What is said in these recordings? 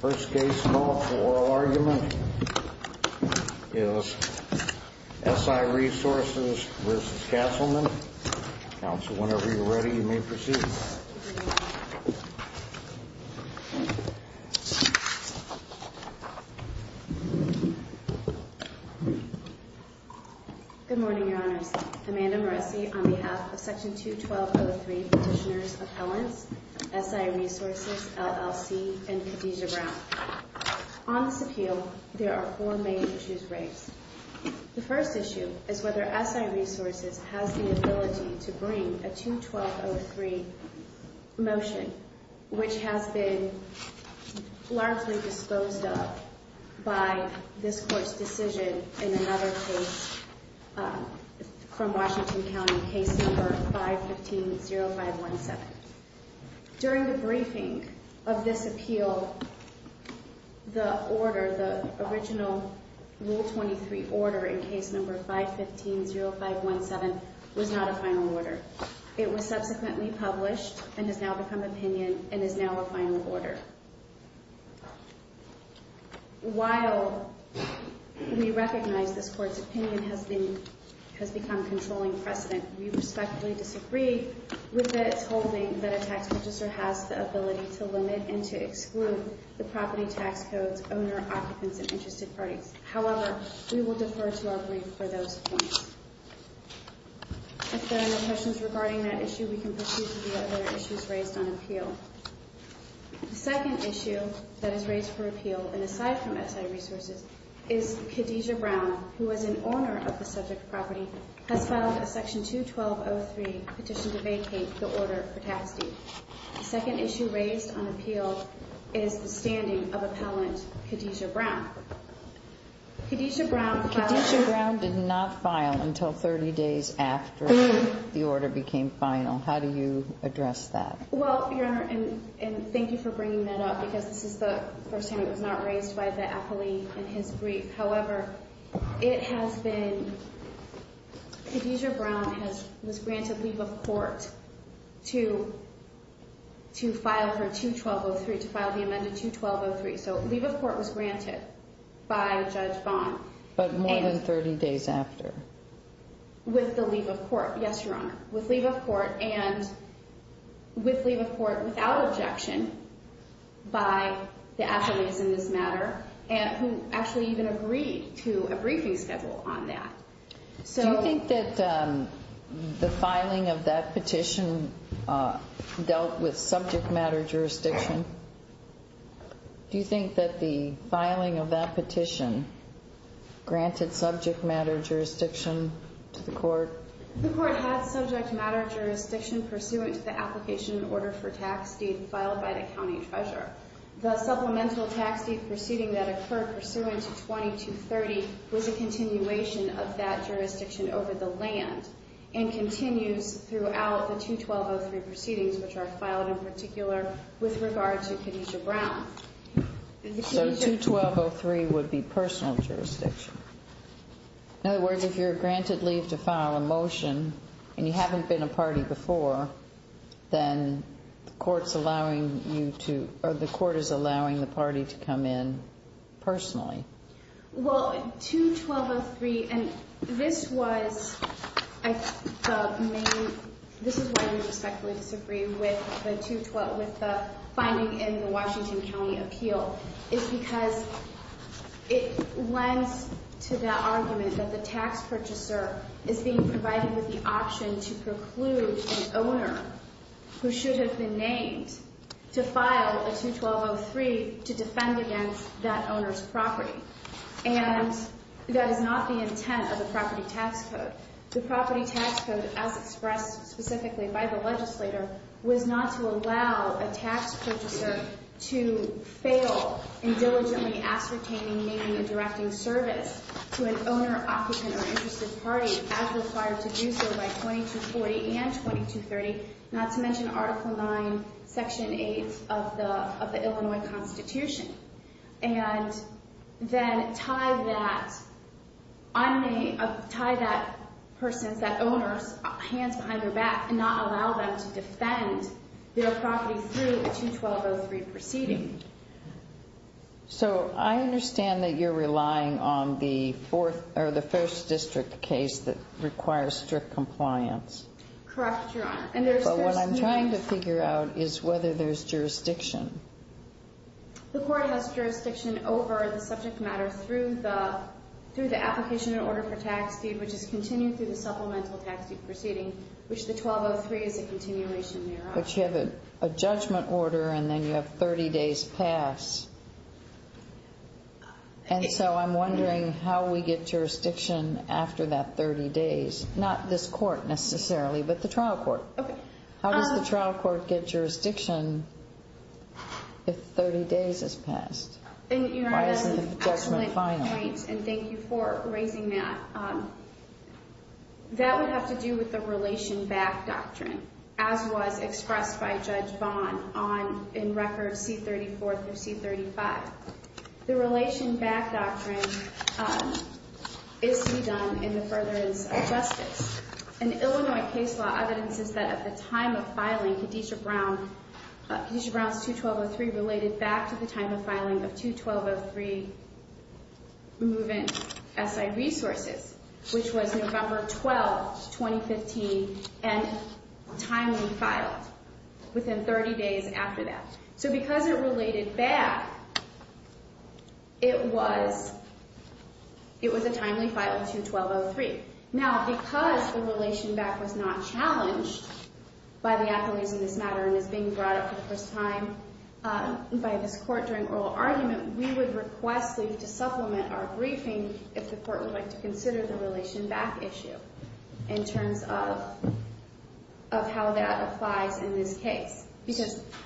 First case in all for oral argument is S.I. Resources v. Castleman. Counsel, whenever you're ready, you may proceed. S.I. Resources v. Castleman is a case in all for oral argument. On this appeal, there are four main issues raised. The first issue is whether S.I. Resources has the ability to bring a 2-1203 motion, which has been largely disposed of by this Court's decision in another case from Washington County, case number 515-0517. During the briefing of this appeal, the original Rule 23 order in case number 515-0517 was not a final order. It was subsequently published and has now become opinion and is now a final order. While we recognize this Court's opinion has become controlling precedent, we respectfully disagree with its holding that a tax register has the ability to limit and to exclude the property tax codes, owner, occupants, and interested parties. However, we will defer to our brief for those points. If there are no questions regarding that issue, we can proceed to the other issues raised on appeal. The second issue that is raised for appeal, and aside from S.I. Resources, is Khadijah Brown, who is an owner of the subject property, has filed a section 2-1203 petition to vacate the order for taxing. The second issue raised on appeal is the standing of appellant Khadijah Brown. Khadijah Brown filed... Khadijah Brown did not file until 30 days after the order became final. How do you address that? Well, Your Honor, and thank you for bringing that up, because this is the first time it was not raised by the appellee in his brief. However, it has been... Khadijah Brown was granted leave of court to file her 2-1203, to file the amended 2-1203. So, leave of court was granted by Judge Vaughn. But more than 30 days after. With the leave of court, yes, Your Honor. With leave of court, and with leave of court without objection by the appellees in this matter, who actually even agreed to a briefing schedule on that. Do you think that the filing of that petition dealt with subject matter jurisdiction? Do you think that the filing of that petition granted subject matter jurisdiction to the court? The court had subject matter jurisdiction pursuant to the application order for tax deed filed by the county treasurer. The supplemental tax deed proceeding that occurred pursuant to 2230 was a continuation of that jurisdiction over the land, and continues throughout the 2-1203 proceedings which are filed in particular with regard to Khadijah Brown. So, 2-1203 would be personal jurisdiction. In other words, if you're granted leave to file a motion, and you haven't been a party before, then the court's allowing you to, or the court is allowing the party to come in personally. Well, 2-1203, and this was the main, this is why I respectfully disagree with the 2-12, with the finding in the Washington County Appeal, is because it lends to the argument that the tax purchaser is being provided with the option to preclude an owner who should have been named to file a 2-1203 to defend against that owner's property. And that is not the intent of the property tax code. The property tax code, as expressed specifically by the legislator, was not to allow a tax purchaser to fail in diligently ascertaining naming and directing service to an owner, occupant, or interested party as required to do so by 2240 and 2230, not to mention Article 9, Section 8 of the Illinois Constitution. And then tie that person, that owner's hands behind their back, and not allow them to defend their property through a 2-1203 proceeding. So, I understand that you're relying on the first district case that requires strict compliance. Correct, Your Honor. But what I'm trying to figure out is whether there's jurisdiction. The court has jurisdiction over the subject matter through the application in order for tax deed, which is continued through the supplemental tax deed proceeding, which the 1203 is a continuation, Your Honor. But you have a judgment order and then you have 30 days pass. And so I'm wondering how we get jurisdiction after that 30 days. Not this court, necessarily, but the trial court. Okay. How does the trial court get jurisdiction if 30 days has passed? Why isn't the judgment final? Excellent point, and thank you for raising that. That would have to do with the relation back doctrine, as was expressed by Judge Vaughn in Record C-34 through C-35. The relation back doctrine is to be done in the furtherance of justice. An Illinois case law evidence is that at the time of filing, Khadijah Brown's 21203 related back to the time of filing of 21203, removing SI resources, which was November 12, 2015, and timely filed within 30 days after that. So because it related back, it was a timely file of 21203. Now, because the relation back was not challenged by the appellees in this matter and is being brought up for the first time by this court during oral argument, we would request leave to supplement our briefing if the court would like to consider the relation back issue in terms of how that applies in this case.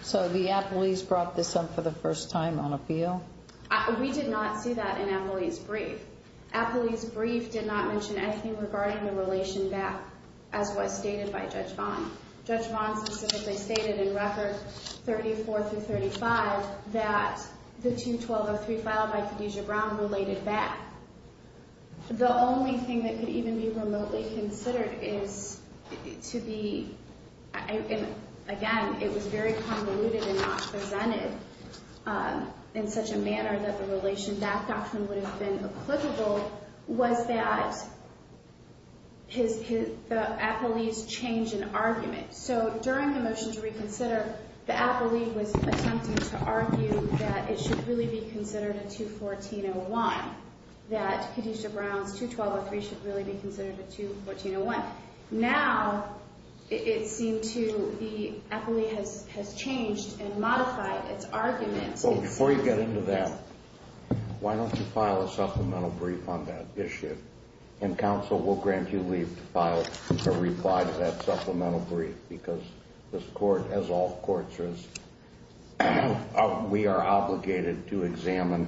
So the appellees brought this up for the first time on appeal? We did not see that in appellees' brief. Appellees' brief did not mention anything regarding the relation back, as was stated by Judge Vaughn. Judge Vaughn specifically stated in Record 34 through 35 that the 21203 filed by Khadijah Brown related back. The only thing that could even be remotely considered is to be, again, it was very convoluted and not presented in such a manner that the relation back doctrine would have been applicable, was that the appellees changed an argument. So during the motion to reconsider, the appellee was attempting to argue that it should really be considered a 21401, that Khadijah Brown's 21203 should really be considered a 21401. Now, it seemed to the appellee has changed and modified its argument. Well, before you get into that, why don't you file a supplemental brief on that issue? And counsel will grant you leave to file a reply to that supplemental brief because this court, as all courts, we are obligated to examine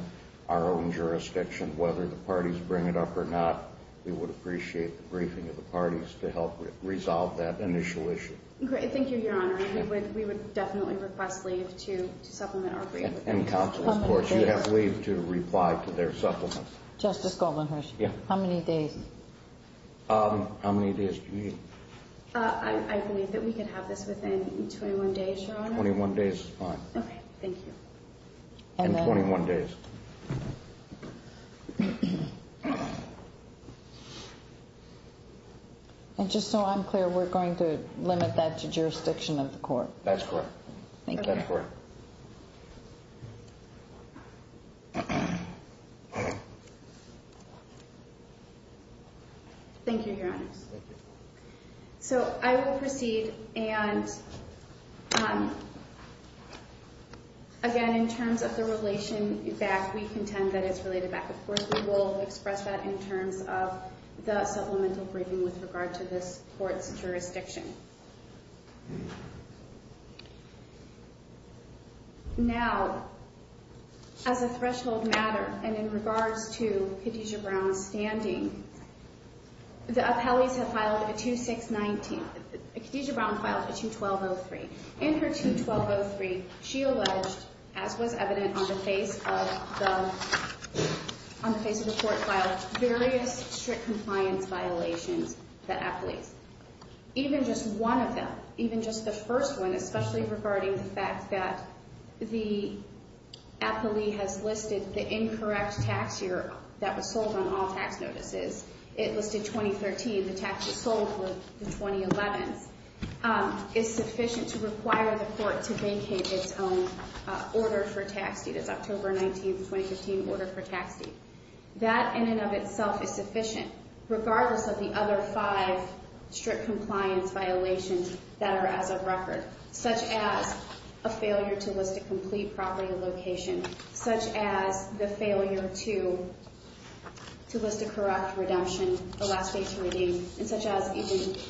our own jurisdiction, whether the parties bring it up or not. We would appreciate the briefing of the parties to help resolve that initial issue. Great. Thank you, Your Honor. We would definitely request leave to supplement our brief. And counsel, of course, you have leave to reply to their supplement. Justice Goldman-Hirsch, how many days? How many days do you need? I believe that we could have this within 21 days, Your Honor. Twenty-one days is fine. Okay. Thank you. And 21 days. And just so I'm clear, we're going to limit that to jurisdiction of the court? That's correct. Thank you. That's correct. Thank you, Your Honor. Thank you. So I will proceed. And, again, in terms of the relation back, we contend that it's related back. Of course, we will express that in terms of the supplemental briefing with regard to this court's jurisdiction. Now, as a threshold matter and in regards to Khadijah Brown's standing, the appellees have filed a 2619. Khadijah Brown filed a 2203. In her 2203, she alleged, as was evident on the face of the court file, various strict compliance violations of the appellees. Even just one of them, even just the first one, especially regarding the fact that the appellee has listed the incorrect tax year that was sold on all tax notices. It listed 2013. The tax was sold for the 2011s. It's sufficient to require the court to vacate its own order for tax deed. It's October 19, 2015, order for tax deed. That in and of itself is sufficient, regardless of the other five strict compliance violations that are as a record, such as a failure to list a complete property location, such as the failure to list a correct redemption, the last day to redeem, and such as even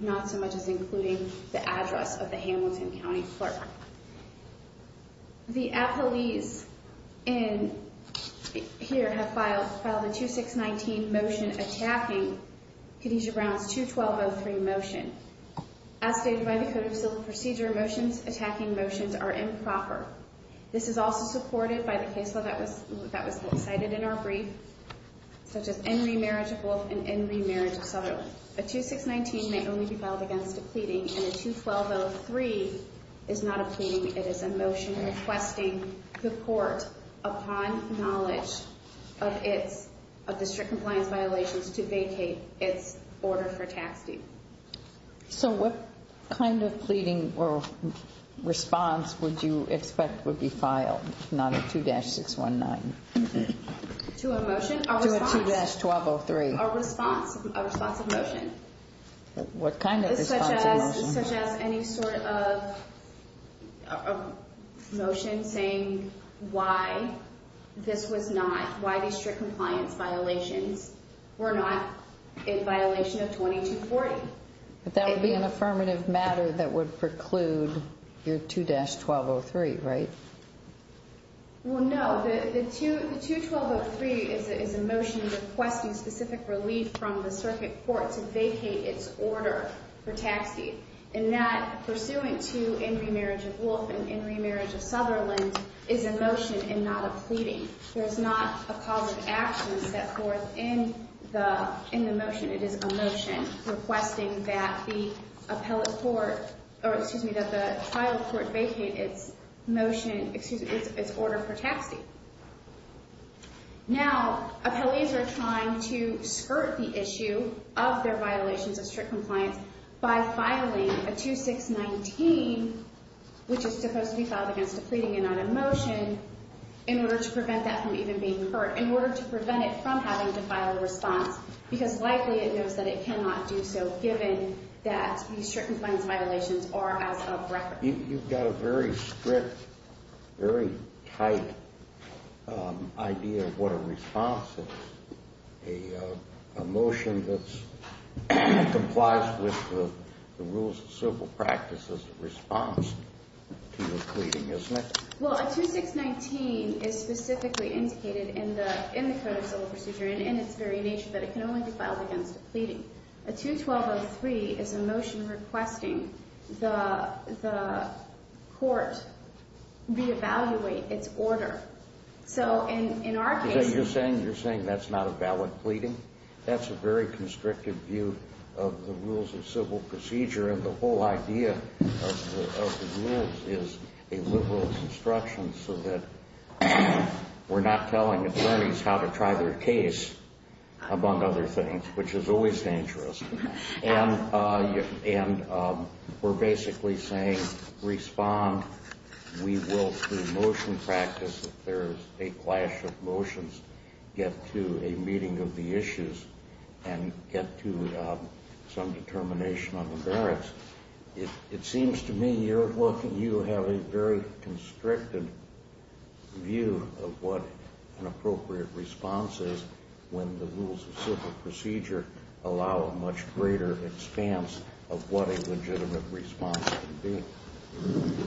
not so much as including the address of the Hamilton County clerk. The appellees here have filed a 2619 motion attacking Khadijah Brown's 2203 motion. As stated by the Code of Procedure, motions attacking motions are improper. This is also supported by the case law that was cited in our brief, such as in remarriage of both and in remarriage of several. A 2619 may only be filed against a pleading, and a 2203 is not a pleading. It is a motion requesting the court, upon knowledge of the strict compliance violations, to vacate its order for tax deed. So what kind of pleading or response would you expect would be filed, not a 2619? To a motion? To a 2203. A response, a responsive motion. What kind of response? Such as any sort of motion saying why this was not, why these strict compliance violations were not in violation of 2240. But that would be an affirmative matter that would preclude your 2-1203, right? Well, no. The 2203 is a motion requesting specific relief from the circuit court to vacate its order for tax deed. And that, pursuant to in remarriage of Wolf and in remarriage of Sutherland, is a motion and not a pleading. There is not a positive action set forth in the motion. It is a motion requesting that the trial court vacate its order for tax deed. Now, appellees are trying to skirt the issue of their violations of strict compliance by filing a 2619, which is supposed to be filed against a pleading and not a motion, in order to prevent that from even being heard, in order to prevent it from having to file a response, because likely it knows that it cannot do so, given that these strict compliance violations are as of record. You've got a very strict, very tight idea of what a response is, a motion that complies with the rules of civil practice as a response to your pleading, isn't it? Well, a 2619 is specifically indicated in the Code of Civil Procedure and in its very nature that it can only be filed against a pleading. A 21203 is a motion requesting the court re-evaluate its order. So in our case— Is that what you're saying? You're saying that's not a valid pleading? That's a very constrictive view of the rules of civil procedure, and the whole idea of the rules is a liberal construction so that we're not telling attorneys how to try their case, among other things, which is always dangerous. And we're basically saying, respond. We will, through motion practice, if there's a clash of motions, get to a meeting of the issues and get to some determination on the merits. It seems to me you have a very constrictive view of what an appropriate response is when the rules of civil procedure allow a much greater expanse of what a legitimate response can be.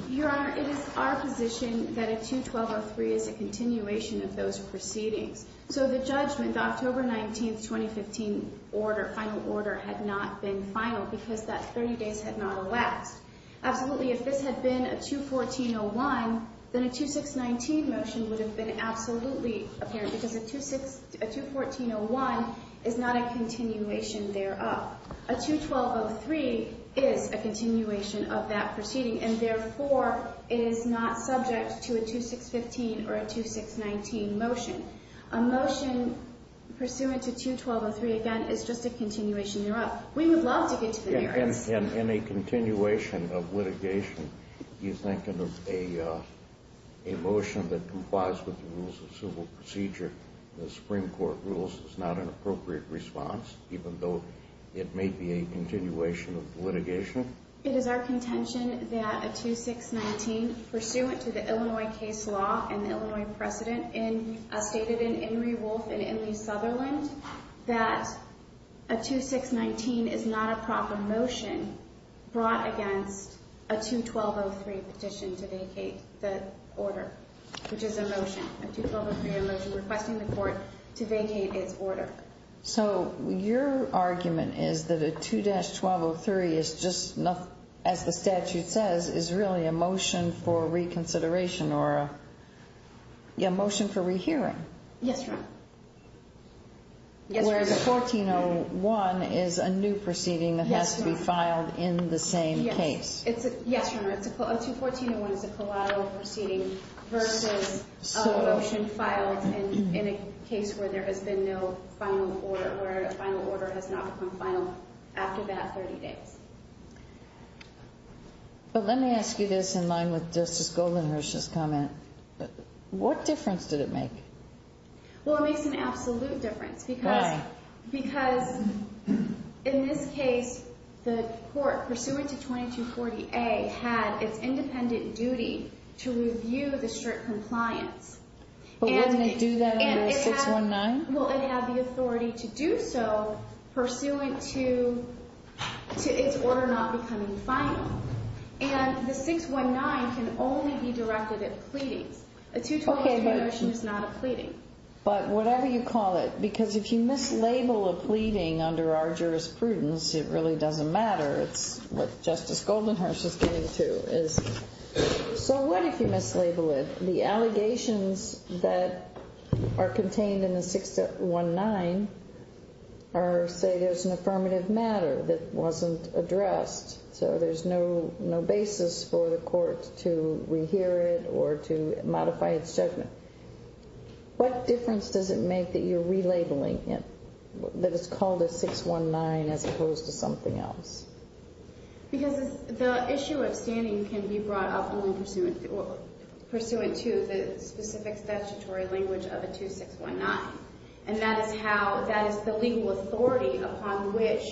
Your Honor, it is our position that a 21203 is a continuation of those proceedings. So the judgment, the October 19, 2015, final order had not been final because that 30 days had not elapsed. Absolutely, if this had been a 21401, then a 2619 motion would have been absolutely apparent because a 21401 is not a continuation thereof. A 21203 is a continuation of that proceeding, and therefore it is not subject to a 2615 or a 2619 motion. A motion pursuant to 21203, again, is just a continuation thereof. We would love to get to the merits. In a continuation of litigation, you think of a motion that complies with the rules of civil procedure, the Supreme Court rules, as not an appropriate response, even though it may be a continuation of litigation? It is our contention that a 2619, pursuant to the Illinois case law and the Illinois precedent stated in Enri Wolfe and Enri Sutherland, that a 2619 is not a proper motion brought against a 21203 petition to vacate the order, which is a motion, a 21203 motion requesting the court to vacate its order. So your argument is that a 2-1203 is just, as the statute says, is really a motion for reconsideration or a motion for rehearing. Yes, Your Honor. Whereas a 1401 is a new proceeding that has to be filed in the same case. Yes, Your Honor. A 21401 is a collateral proceeding versus a motion filed in a case where there has been no final order, where a final order has not become final after that 30 days. But let me ask you this in line with Justice Goldenberg's comment. What difference did it make? Well, it makes an absolute difference. Why? Because, in this case, the court, pursuant to 2240A, had its independent duty to review the strict compliance. But wouldn't it do that under a 619? Well, it had the authority to do so, pursuant to its order not becoming final. And the 619 can only be directed at pleadings. A 22203 motion is not a pleading. But whatever you call it. Because if you mislabel a pleading under our jurisprudence, it really doesn't matter. It's what Justice Goldenberg is getting to. So what if you mislabel it? The allegations that are contained in the 619 are, say, there's an affirmative matter that wasn't addressed. So there's no basis for the court to rehear it or to modify its judgment. What difference does it make that you're relabeling it? That it's called a 619 as opposed to something else? Because the issue of standing can be brought up only pursuant to the specific statutory language of a 2619. And that is the legal authority upon which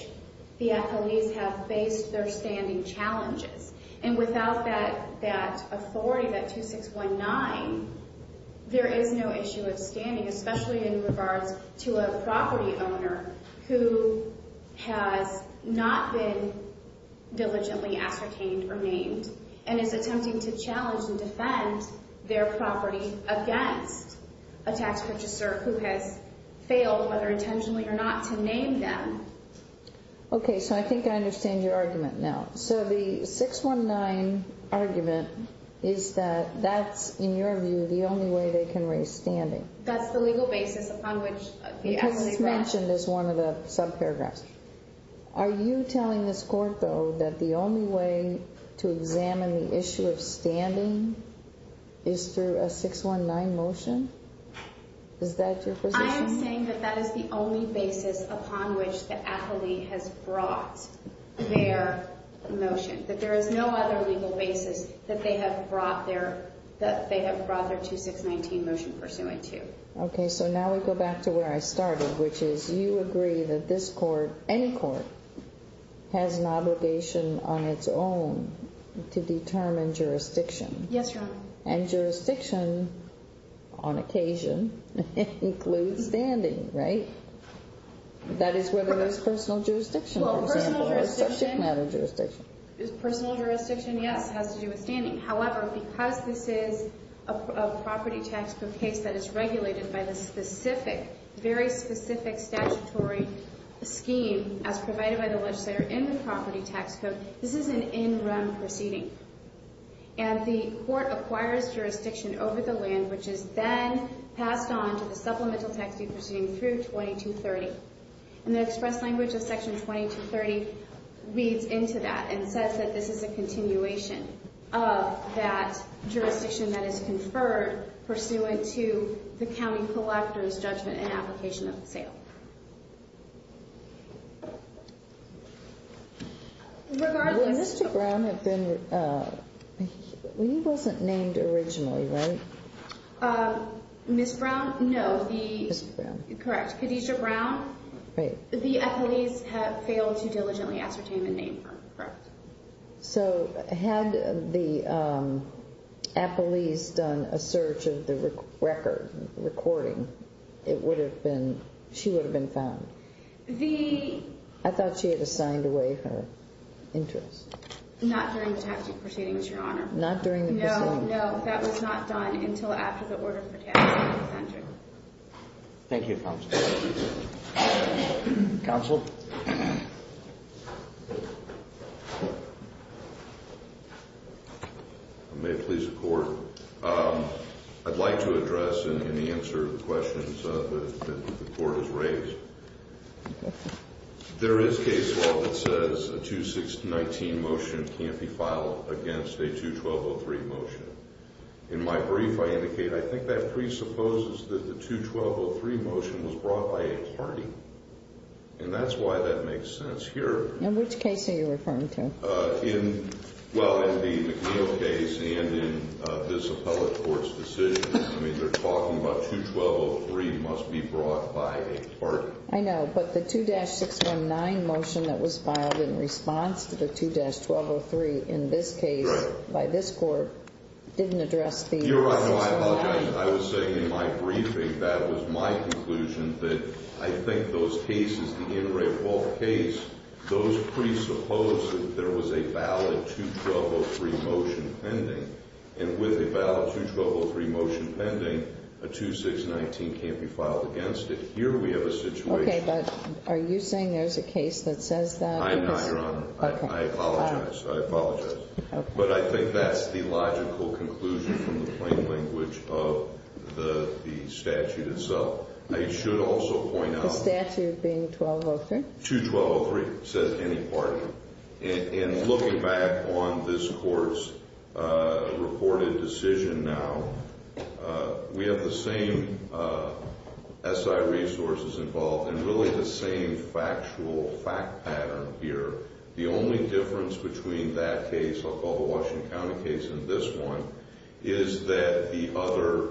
the athletes have faced their standing challenges. And without that authority, that 2619, there is no issue of standing, especially in regards to a property owner who has not been diligently ascertained or named and is attempting to challenge and defend their property against a tax purchaser who has failed, whether intentionally or not, to name them. Okay, so I think I understand your argument now. So the 619 argument is that that's, in your view, the only way they can raise standing. That's the legal basis upon which the athletes— Because it's mentioned as one of the subparagraphs. Are you telling this court, though, that the only way to examine the issue of standing is through a 619 motion? Is that your position? I am saying that that is the only basis upon which the athlete has brought their motion. That there is no other legal basis that they have brought their 2619 motion pursuant to. Okay, so now we go back to where I started, which is you agree that this court, any court, has an obligation on its own to determine jurisdiction. Yes, Your Honor. And jurisdiction, on occasion, includes standing, right? That is whether there's personal jurisdiction, for example, or subject matter jurisdiction. Personal jurisdiction, yes, has to do with standing. However, because this is a property tax code case that is regulated by the specific, very specific statutory scheme as provided by the legislator in the property tax code, this is an in-run proceeding. And the court acquires jurisdiction over the land, which is then passed on to the supplemental tax deed proceeding through 2230. And the express language of Section 2230 reads into that and says that this is a continuation of that jurisdiction that is conferred pursuant to the county collector's judgment and application of the sale. Would Mr. Brown have been, he wasn't named originally, right? Ms. Brown, no. Ms. Brown. Correct. Khadijah Brown. Right. The appellees have failed to diligently ascertain the name. Correct. So had the appellees done a search of the record, recording, it would have been, she would have been found. I thought she had assigned away her interest. Not during the tax deed proceeding, Your Honor. Not during the proceeding. No, no, that was not done until after the order for tax deed proceeding. Thank you, counsel. Counsel. May it please the court. I'd like to address and answer the questions that the court has raised. There is case law that says a 2-619 motion can't be filed against a 2-1203 motion. In my brief, I indicate, I think that presupposes that the 2-1203 motion was brought by a party. And that's why that makes sense here. In which case are you referring to? In, well, in the McNeil case and in this appellate court's decision. I mean, they're talking about 2-1203 must be brought by a party. I know, but the 2-619 motion that was filed in response to the 2-1203, in this case, by this court, didn't address the 2-619. Your Honor, I apologize. I was saying in my briefing, that was my conclusion. That I think those cases, the Anne Ray Wolfe case, those presuppose that there was a valid 2-1203 motion pending. And with a valid 2-1203 motion pending, a 2-619 can't be filed against it. Here we have a situation. Okay, but are you saying there's a case that says that? I'm not, Your Honor. I apologize. I apologize. Okay. But I think that's the logical conclusion from the plain language of the statute itself. I should also point out. The statute being 2-1203? 2-1203 says any party. And looking back on this court's reported decision now, we have the same SI resources involved and really the same factual fact pattern here. The only difference between that case, I'll call the Washington County case and this one, is that the other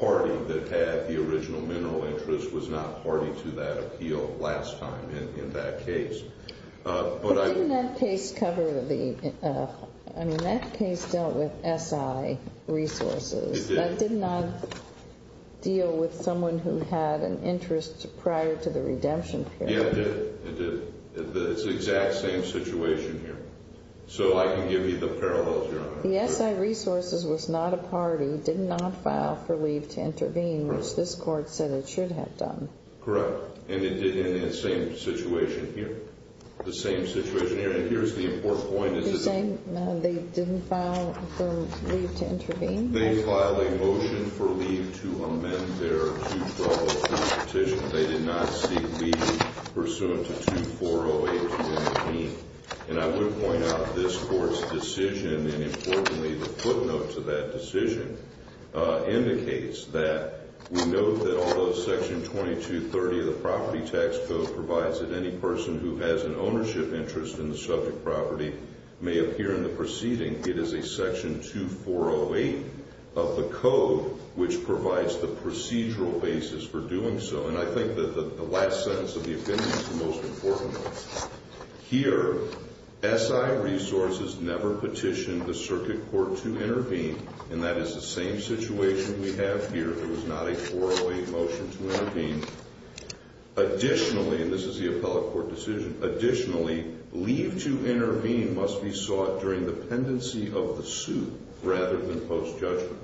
party that had the original mineral interest was not party to that appeal last time in that case. But didn't that case cover the, I mean, that case dealt with SI resources. It did. That did not deal with someone who had an interest prior to the redemption period. Yeah, it did. It did. And it did in that same situation here. So I can give you the parallels, Your Honor. The SI resources was not a party, did not file for leave to intervene, which this court said it should have done. Correct. And it did in that same situation here. The same situation here. And here's the important point. They didn't file for leave to intervene? They filed a motion for leave to amend their 2-1203 petition. They did not seek leave pursuant to 2-408-218. And I would point out this court's decision, and importantly the footnote to that decision, indicates that we note that although Section 2230 of the Property Tax Code provides that any person who has an ownership interest in the subject property may appear in the proceeding, it is a Section 2-408 of the code which provides the procedural basis for doing so. And I think that the last sentence of the opinion is the most important one. Here, SI resources never petitioned the circuit court to intervene, and that is the same situation we have here. It was not a 408 motion to intervene. Additionally, and this is the appellate court decision, additionally, leave to intervene must be sought during the pendency of the suit rather than post-judgment.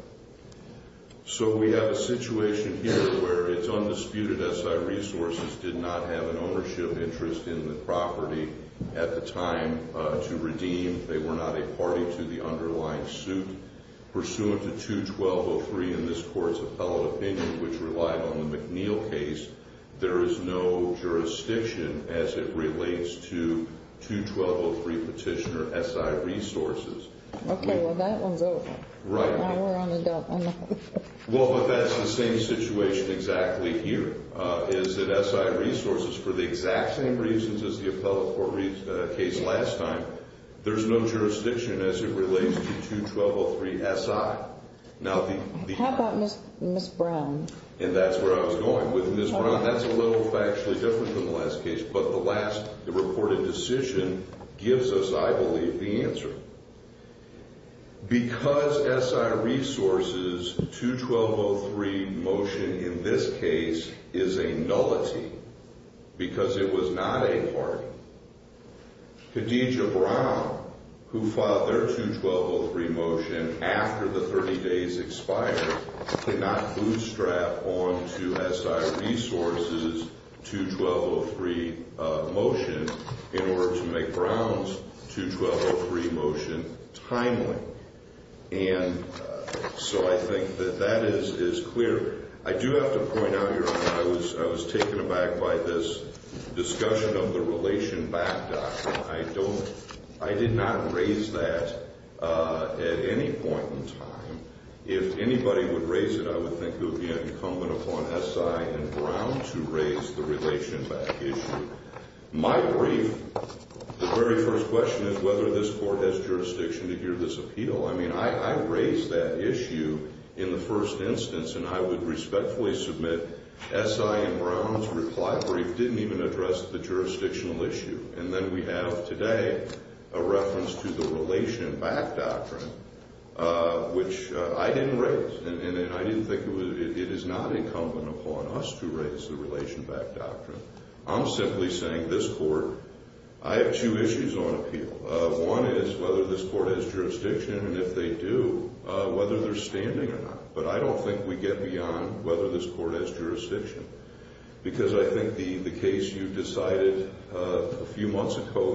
So we have a situation here where it's undisputed SI resources did not have an ownership interest in the property at the time to redeem. They were not a party to the underlying suit. Pursuant to 2-1203 in this court's appellate opinion, which relied on the McNeil case, there is no jurisdiction as it relates to 2-1203 petitioner SI resources. Okay, well, that one's over. Right. Now we're on a double. Well, but that's the same situation exactly here, is that SI resources, for the exact same reasons as the appellate court case last time, there's no jurisdiction as it relates to 2-1203 SI. How about Ms. Brown? And that's where I was going with Ms. Brown. That's a little factually different from the last case, but the last reported decision gives us, I believe, the answer. Because SI resources, 2-1203 motion in this case is a nullity because it was not a party. Khadija Brown, who filed their 2-1203 motion after the 30 days expired, did not bootstrap on to SI resources 2-1203 motion in order to make Brown's 2-1203 motion timely. And so I think that that is clear. I do have to point out, Your Honor, I was taken aback by this discussion of the relation backdrop. I did not raise that at any point in time. If anybody would raise it, I would think it would be incumbent upon SI and Brown to raise the relation back issue. My brief, the very first question is whether this court has jurisdiction to hear this appeal. I mean, I raised that issue in the first instance, and I would respectfully submit SI and Brown's reply brief didn't even address the jurisdictional issue. And then we have today a reference to the relation back doctrine, which I didn't raise. And I didn't think it was – it is not incumbent upon us to raise the relation back doctrine. I'm simply saying this court – I have two issues on appeal. One is whether this court has jurisdiction, and if they do, whether they're standing or not. But I don't think we get beyond whether this court has jurisdiction. Because I think the case you decided a few months ago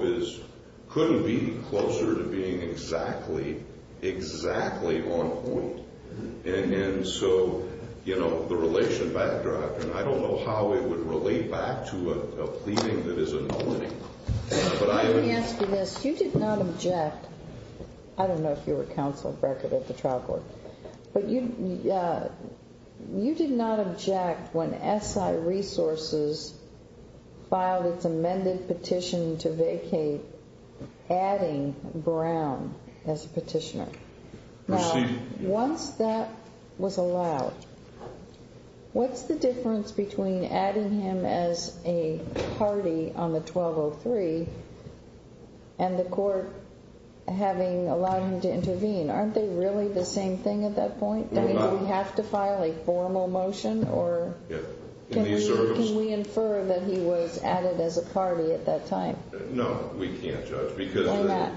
couldn't be closer to being exactly, exactly on point. And so, you know, the relation back doctrine, I don't know how it would relate back to a pleading that is a nominee. Let me ask you this. You did not object – I don't know if you were counsel of record at the trial court. But you did not object when SI Resources filed its amended petition to vacate adding Brown as a petitioner. Now, once that was allowed, what's the difference between adding him as a party on the 1203 and the court having allowed him to intervene? Aren't they really the same thing at that point? Do we have to file a formal motion? Can we infer that he was added as a party at that time? No, we can't, Judge. Why not?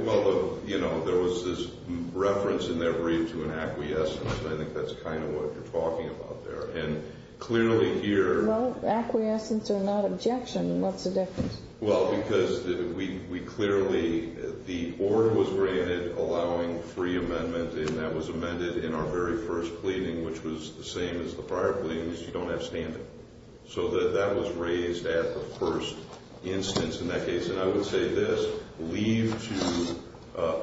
Well, you know, there was this reference in their brief to an acquiescence. I think that's kind of what you're talking about there. And clearly here – Well, acquiescence or not objection, what's the difference? Well, because we clearly – the order was granted allowing free amendment. And that was amended in our very first pleading, which was the same as the prior pleadings. You don't have standing. So that was raised at the first instance in that case. And I would say this. Leave to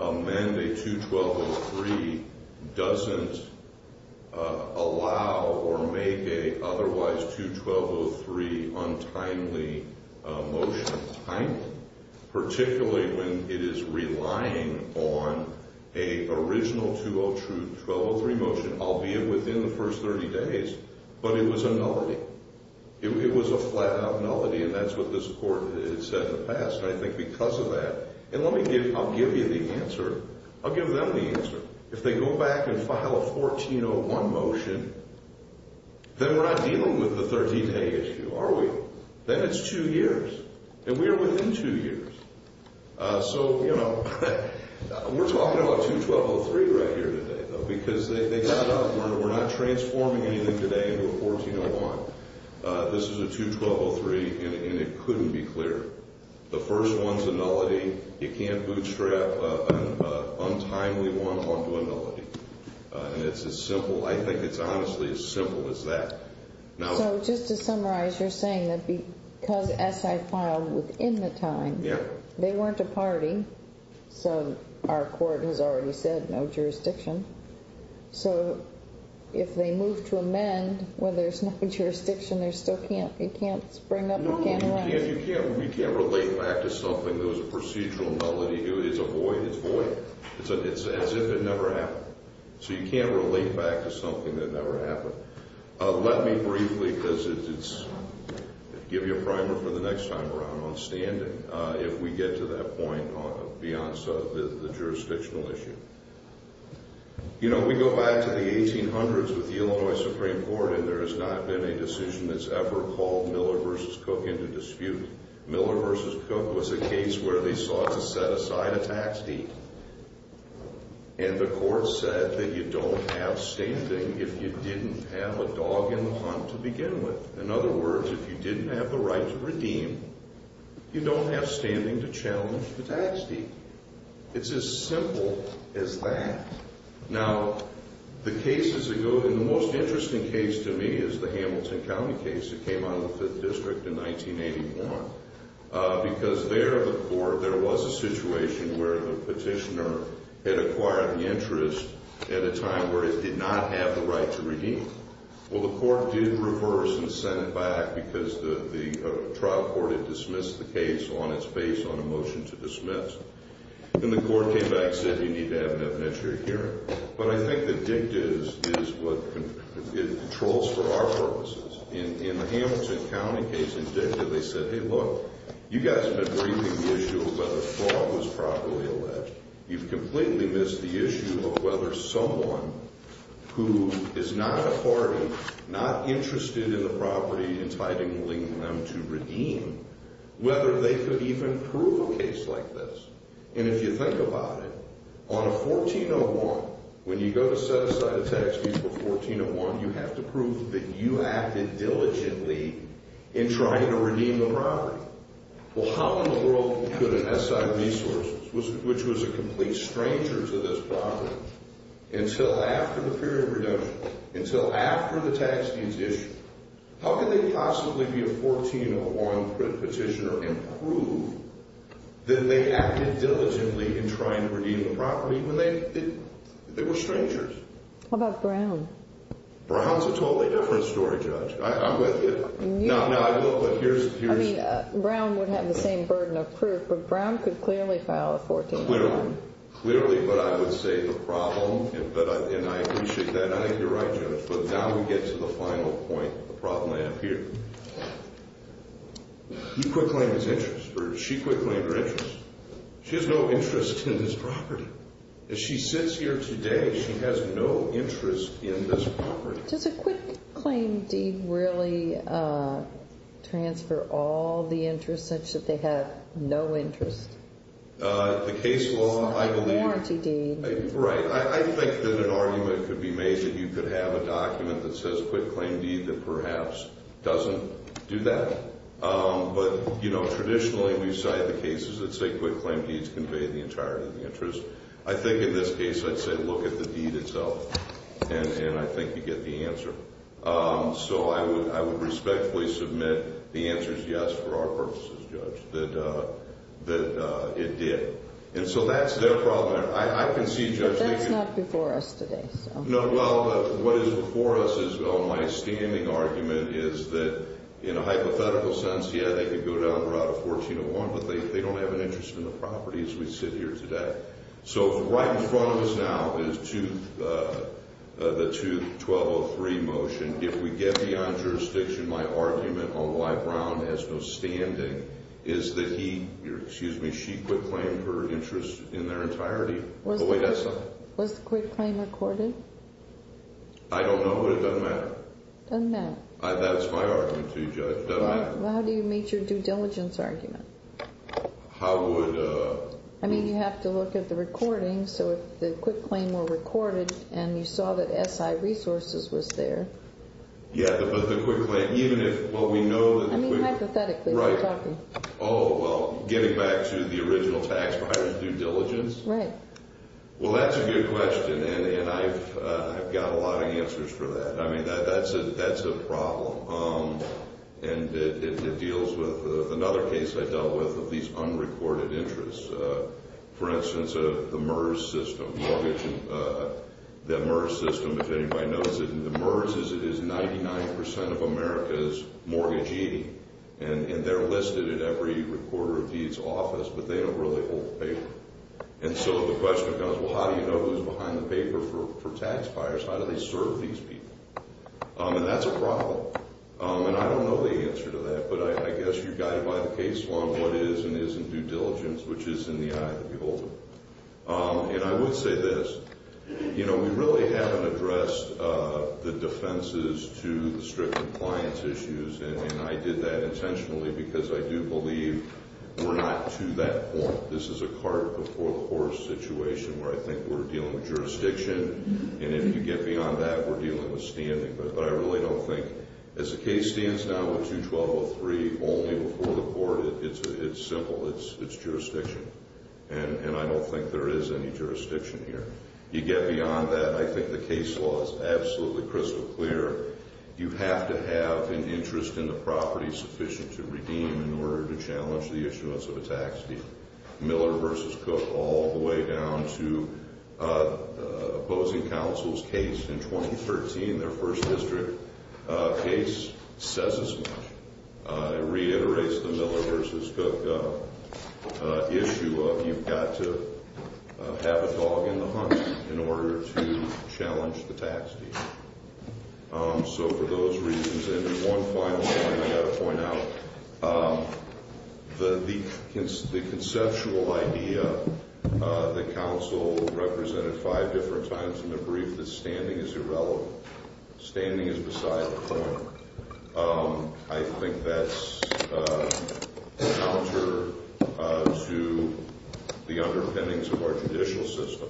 amend a 21203 doesn't allow or make a otherwise 2203 untimely motion timely, particularly when it is relying on a original 2203 motion, albeit within the first 30 days. But it was a nullity. It was a flat-out nullity, and that's what this Court had said in the past. And I think because of that – and let me give – I'll give you the answer. I'll give them the answer. If they go back and file a 1401 motion, then we're not dealing with the 13-day issue, are we? Then it's two years. And we are within two years. So, you know, we're talking about 21203 right here today, though, because they got up. We're not transforming anything today into a 1401. This is a 21203, and it couldn't be clearer. The first one's a nullity. You can't bootstrap an untimely one onto a nullity. And it's as simple – I think it's honestly as simple as that. So, just to summarize, you're saying that because SI filed within the time, they weren't a party. So our Court has already said no jurisdiction. So if they move to amend when there's no jurisdiction, they still can't – it can't spring up again? No, you can't. We can't relate back to something that was a procedural nullity. It's a void. It's void. It's as if it never happened. So you can't relate back to something that never happened. Let me briefly, because it's – give you a primer for the next time around on standing, if we get to that point on – beyond the jurisdictional issue. You know, we go back to the 1800s with the Illinois Supreme Court, and there has not been a decision that's ever called Miller v. Cook into dispute. Miller v. Cook was a case where they sought to set aside a tax deed. And the Court said that you don't have standing if you didn't have a dog in the hunt to begin with. In other words, if you didn't have the right to redeem, you don't have standing to challenge the tax deed. It's as simple as that. Now, the cases that go – and the most interesting case to me is the Hamilton County case. It came out of the 5th District in 1981. Because there, the court – there was a situation where the petitioner had acquired the interest at a time where it did not have the right to redeem. Well, the court did reverse and send it back because the trial court had dismissed the case on its face on a motion to dismiss. And the court came back and said, you need to have an evidentiary hearing. But I think the dicta is what controls for our purposes. In the Hamilton County case, in dicta, they said, hey, look, you guys have been briefing the issue of whether the fraud was properly alleged. You've completely missed the issue of whether someone who is not a party, not interested in the property entitling them to redeem, whether they could even prove a case like this. And if you think about it, on a 1401, when you go to set aside a tax deed for 1401, you have to prove that you acted diligently in trying to redeem the property. Well, how in the world could an SI Resources, which was a complete stranger to this property, until after the period of redemption, until after the tax deeds issue, how could they possibly be a 1401 petitioner and prove that they acted diligently in trying to redeem the property when they were strangers? How about Brown? Brown's a totally different story, Judge. I'm with you. I mean, Brown would have the same burden of proof, but Brown could clearly file a 1401. Clearly, but I would say the problem, and I appreciate that, and I think you're right, Judge, but now we get to the final point, the problem I have here. You could claim his interest, or she could claim her interest. She has no interest in this property. She sits here today. She has no interest in this property. Does a quitclaim deed really transfer all the interest such that they have no interest? The case law, I believe. It's not a warranty deed. Right. I think that an argument could be made that you could have a document that says quitclaim deed that perhaps doesn't do that. But traditionally, we cite the cases that say quitclaim deeds convey the entirety of the interest. I think in this case, I'd say look at the deed itself, and I think you get the answer. So I would respectfully submit the answer is yes for our purposes, Judge, that it did. And so that's their problem. I can see Judge Nicken— But that's not before us today. No, well, what is before us is my standing argument is that in a hypothetical sense, yeah, they could go down Route 1401, but they don't have an interest in the property as we sit here today. So right in front of us now is the 2203 motion. If we get beyond jurisdiction, my argument on why Brown has no standing is that he— excuse me, she quitclaimed her interest in their entirety. Was the quitclaim recorded? I don't know, but it doesn't matter. It doesn't matter. That's my argument too, Judge. It doesn't matter. Well, how do you meet your due diligence argument? How would— I mean, you have to look at the recording. So if the quitclaim were recorded and you saw that SI resources was there— Yeah, but the quitclaim, even if what we know— I mean, hypothetically. Right. Oh, well, getting back to the original tax buyer's due diligence. Right. Well, that's a good question, and I've got a lot of answers for that. I mean, that's a problem, and it deals with another case I dealt with of these unrecorded interests. For instance, the MERS system, mortgage— the MERS system, if anybody knows it, the MERS is 99 percent of America's mortgagee, and they're listed at every recorder of deeds office, but they don't really hold the paper. And so the question becomes, well, how do you know who's behind the paper for tax buyers? How do they serve these people? And that's a problem, and I don't know the answer to that, but I guess you've got to buy the case along what is and isn't due diligence, which is in the eye of the beholder. And I would say this. You know, we really haven't addressed the defenses to the strict compliance issues, and I did that intentionally because I do believe we're not to that point. This is a cart before the horse situation where I think we're dealing with jurisdiction, and if you get beyond that, we're dealing with standing. But I really don't think—as the case stands now with 212.03, only before the court, it's simple. It's jurisdiction, and I don't think there is any jurisdiction here. You get beyond that, I think the case law is absolutely crystal clear. You have to have an interest in the property sufficient to redeem in order to challenge the issuance of a tax deed. Miller v. Cook all the way down to the opposing counsel's case in 2013, their first district case, says as much. It reiterates the Miller v. Cook issue of you've got to have a dog in the hunt in order to challenge the tax deed. So for those reasons, and one final thing I've got to point out, the conceptual idea that counsel represented five different times in the brief that standing is irrelevant, standing is beside the point. I think that's a counter to the underpinnings of our judicial system.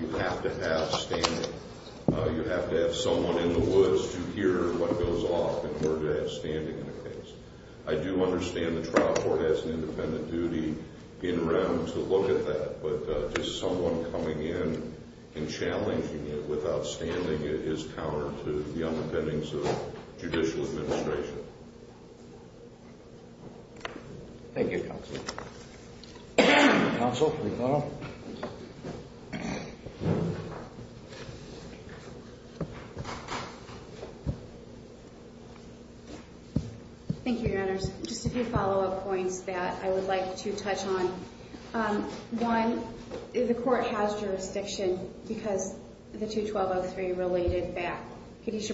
You have to have standing. You have to have someone in the woods to hear what goes off in order to have standing in a case. I do understand the trial court has an independent duty in round to look at that, but just someone coming in and challenging it without standing is counter to the underpinnings of judicial administration. Thank you, counsel. Counsel, please follow up. Thank you, Your Honors. Just a few follow-up points that I would like to touch on. One, the court has jurisdiction because the 212.03 related back. And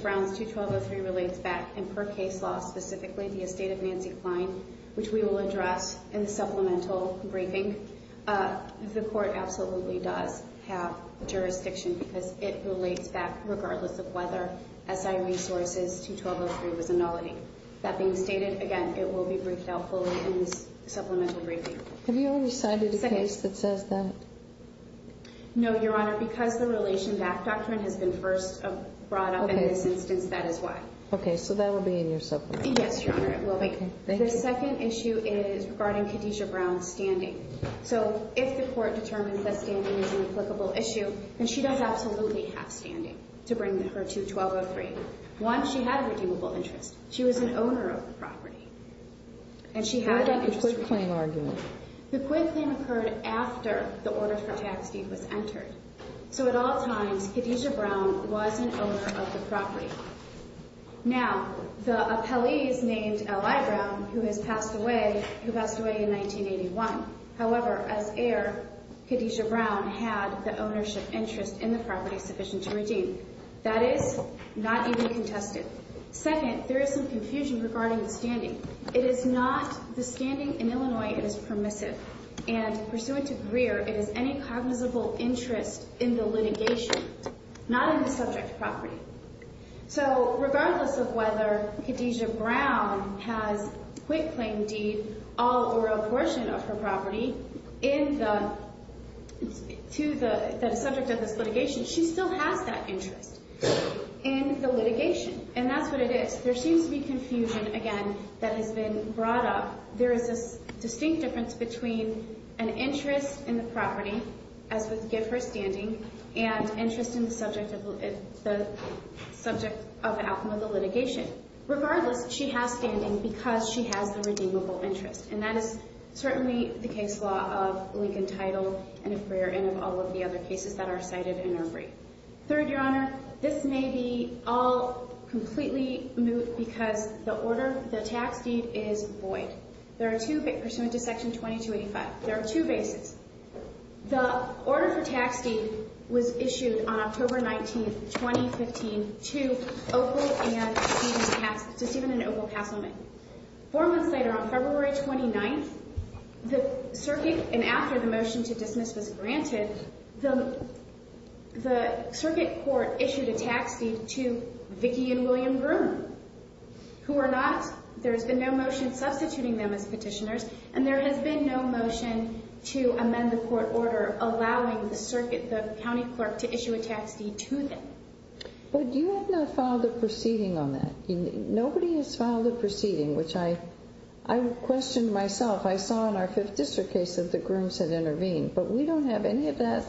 per case law, specifically the estate of Nancy Klein, which we will address in the supplemental briefing, the court absolutely does have jurisdiction because it relates back regardless of whether SI resources to 212.03 was a nullity. That being stated, again, it will be briefed out fully in the supplemental briefing. Have you already cited a case that says that? No, Your Honor. Because the relation back doctrine has been first brought up in this instance, that is why. Okay, so that will be in your supplement. Yes, Your Honor, it will be. The second issue is regarding Khadijah Brown's standing. So if the court determines that standing is an applicable issue, then she does absolutely have standing to bring her to 212.03. One, she had a redeemable interest. She was an owner of the property. What about the quit claim argument? The quit claim occurred after the order for tax deed was entered. So at all times, Khadijah Brown was an owner of the property. Now, the appellee is named L.I. Brown, who has passed away in 1981. However, as heir, Khadijah Brown had the ownership interest in the property sufficient to redeem. That is not even contested. Second, there is some confusion regarding the standing. It is not the standing in Illinois it is permissive. And pursuant to Greer, it is any cognizable interest in the litigation, not in the subject property. So regardless of whether Khadijah Brown has quit claim deed all over a portion of her property to the subject of this litigation, she still has that interest in the litigation. And that's what it is. There seems to be confusion, again, that has been brought up. There is this distinct difference between an interest in the property, as with give her standing, and interest in the subject of the litigation. Regardless, she has standing because she has the redeemable interest. And that is certainly the case law of Lincoln Title and of Greer and of all of the other cases that are cited in her brief. Third, Your Honor, this may be all completely moot because the order, the tax deed, is void. There are two, pursuant to Section 2285, there are two bases. The order for tax deed was issued on October 19th, 2015 to Opal and Stephen Cass, to Stephen and Opal Casselman. Four months later, on February 29th, the circuit, and after the motion to dismiss was granted, the circuit court issued a tax deed to Vicki and William Groom. Who are not, there has been no motion substituting them as petitioners, and there has been no motion to amend the court order allowing the circuit, the county clerk, to issue a tax deed to them. But you have not filed a proceeding on that. Nobody has filed a proceeding, which I questioned myself. I saw in our Fifth District case that the Grooms had intervened, but we don't have any of that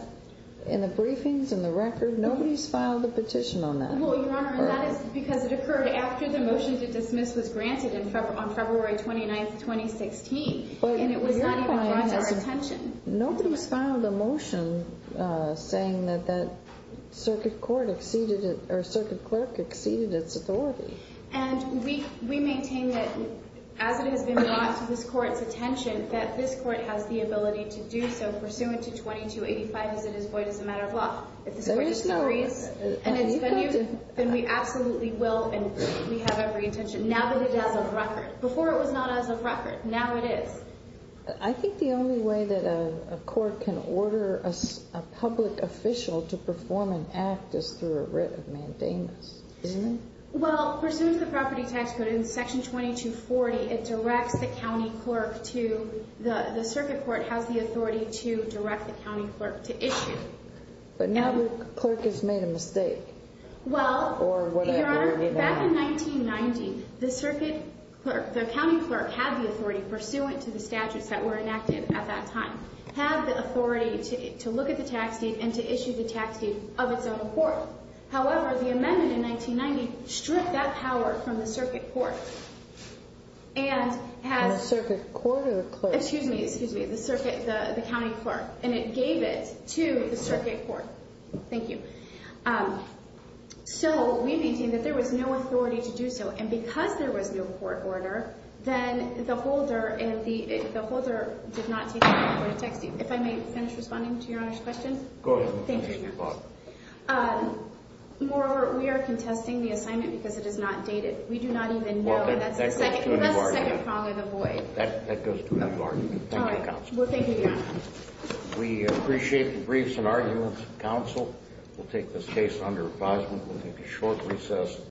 in the briefings, in the record. Nobody's filed a petition on that. Well, Your Honor, that is because it occurred after the motion to dismiss was granted on February 29th, 2016, and it was not even brought to our attention. Nobody's filed a motion saying that that circuit court exceeded, or circuit clerk exceeded its authority. And we maintain that, as it has been brought to this court's attention, that this court has the ability to do so pursuant to 2285, as it is void as a matter of law. If this court disagrees, then we absolutely will, and we have every intention, now that it has a record. Before it was not as a record. Now it is. I think the only way that a court can order a public official to perform an act is through a writ of mandamus, isn't it? Well, pursuant to the property tax code, in Section 2240, it directs the county clerk to, the circuit court has the authority to direct the county clerk to issue. But now the clerk has made a mistake. Well, Your Honor, back in 1990, the circuit clerk, the county clerk, had the authority, pursuant to the statutes that were enacted at that time, had the authority to look at the tax date and to issue the tax date of its own court. However, the amendment in 1990 stripped that power from the circuit court. From the circuit court or the clerk? Excuse me, excuse me, the circuit, the county clerk. And it gave it to the circuit court. Thank you. So we maintain that there was no authority to do so. And because there was no court order, then the holder did not take the power to tax date. If I may finish responding to Your Honor's question? Go ahead. Thank you, Your Honor. Moreover, we are contesting the assignment because it is not dated. We do not even know, and that's the second prong of the void. That goes to an argument. Thank you, Counsel. Well, thank you, Your Honor. We appreciate the briefs and arguments, Counsel. We'll take this case under advisement. We'll take a short recess.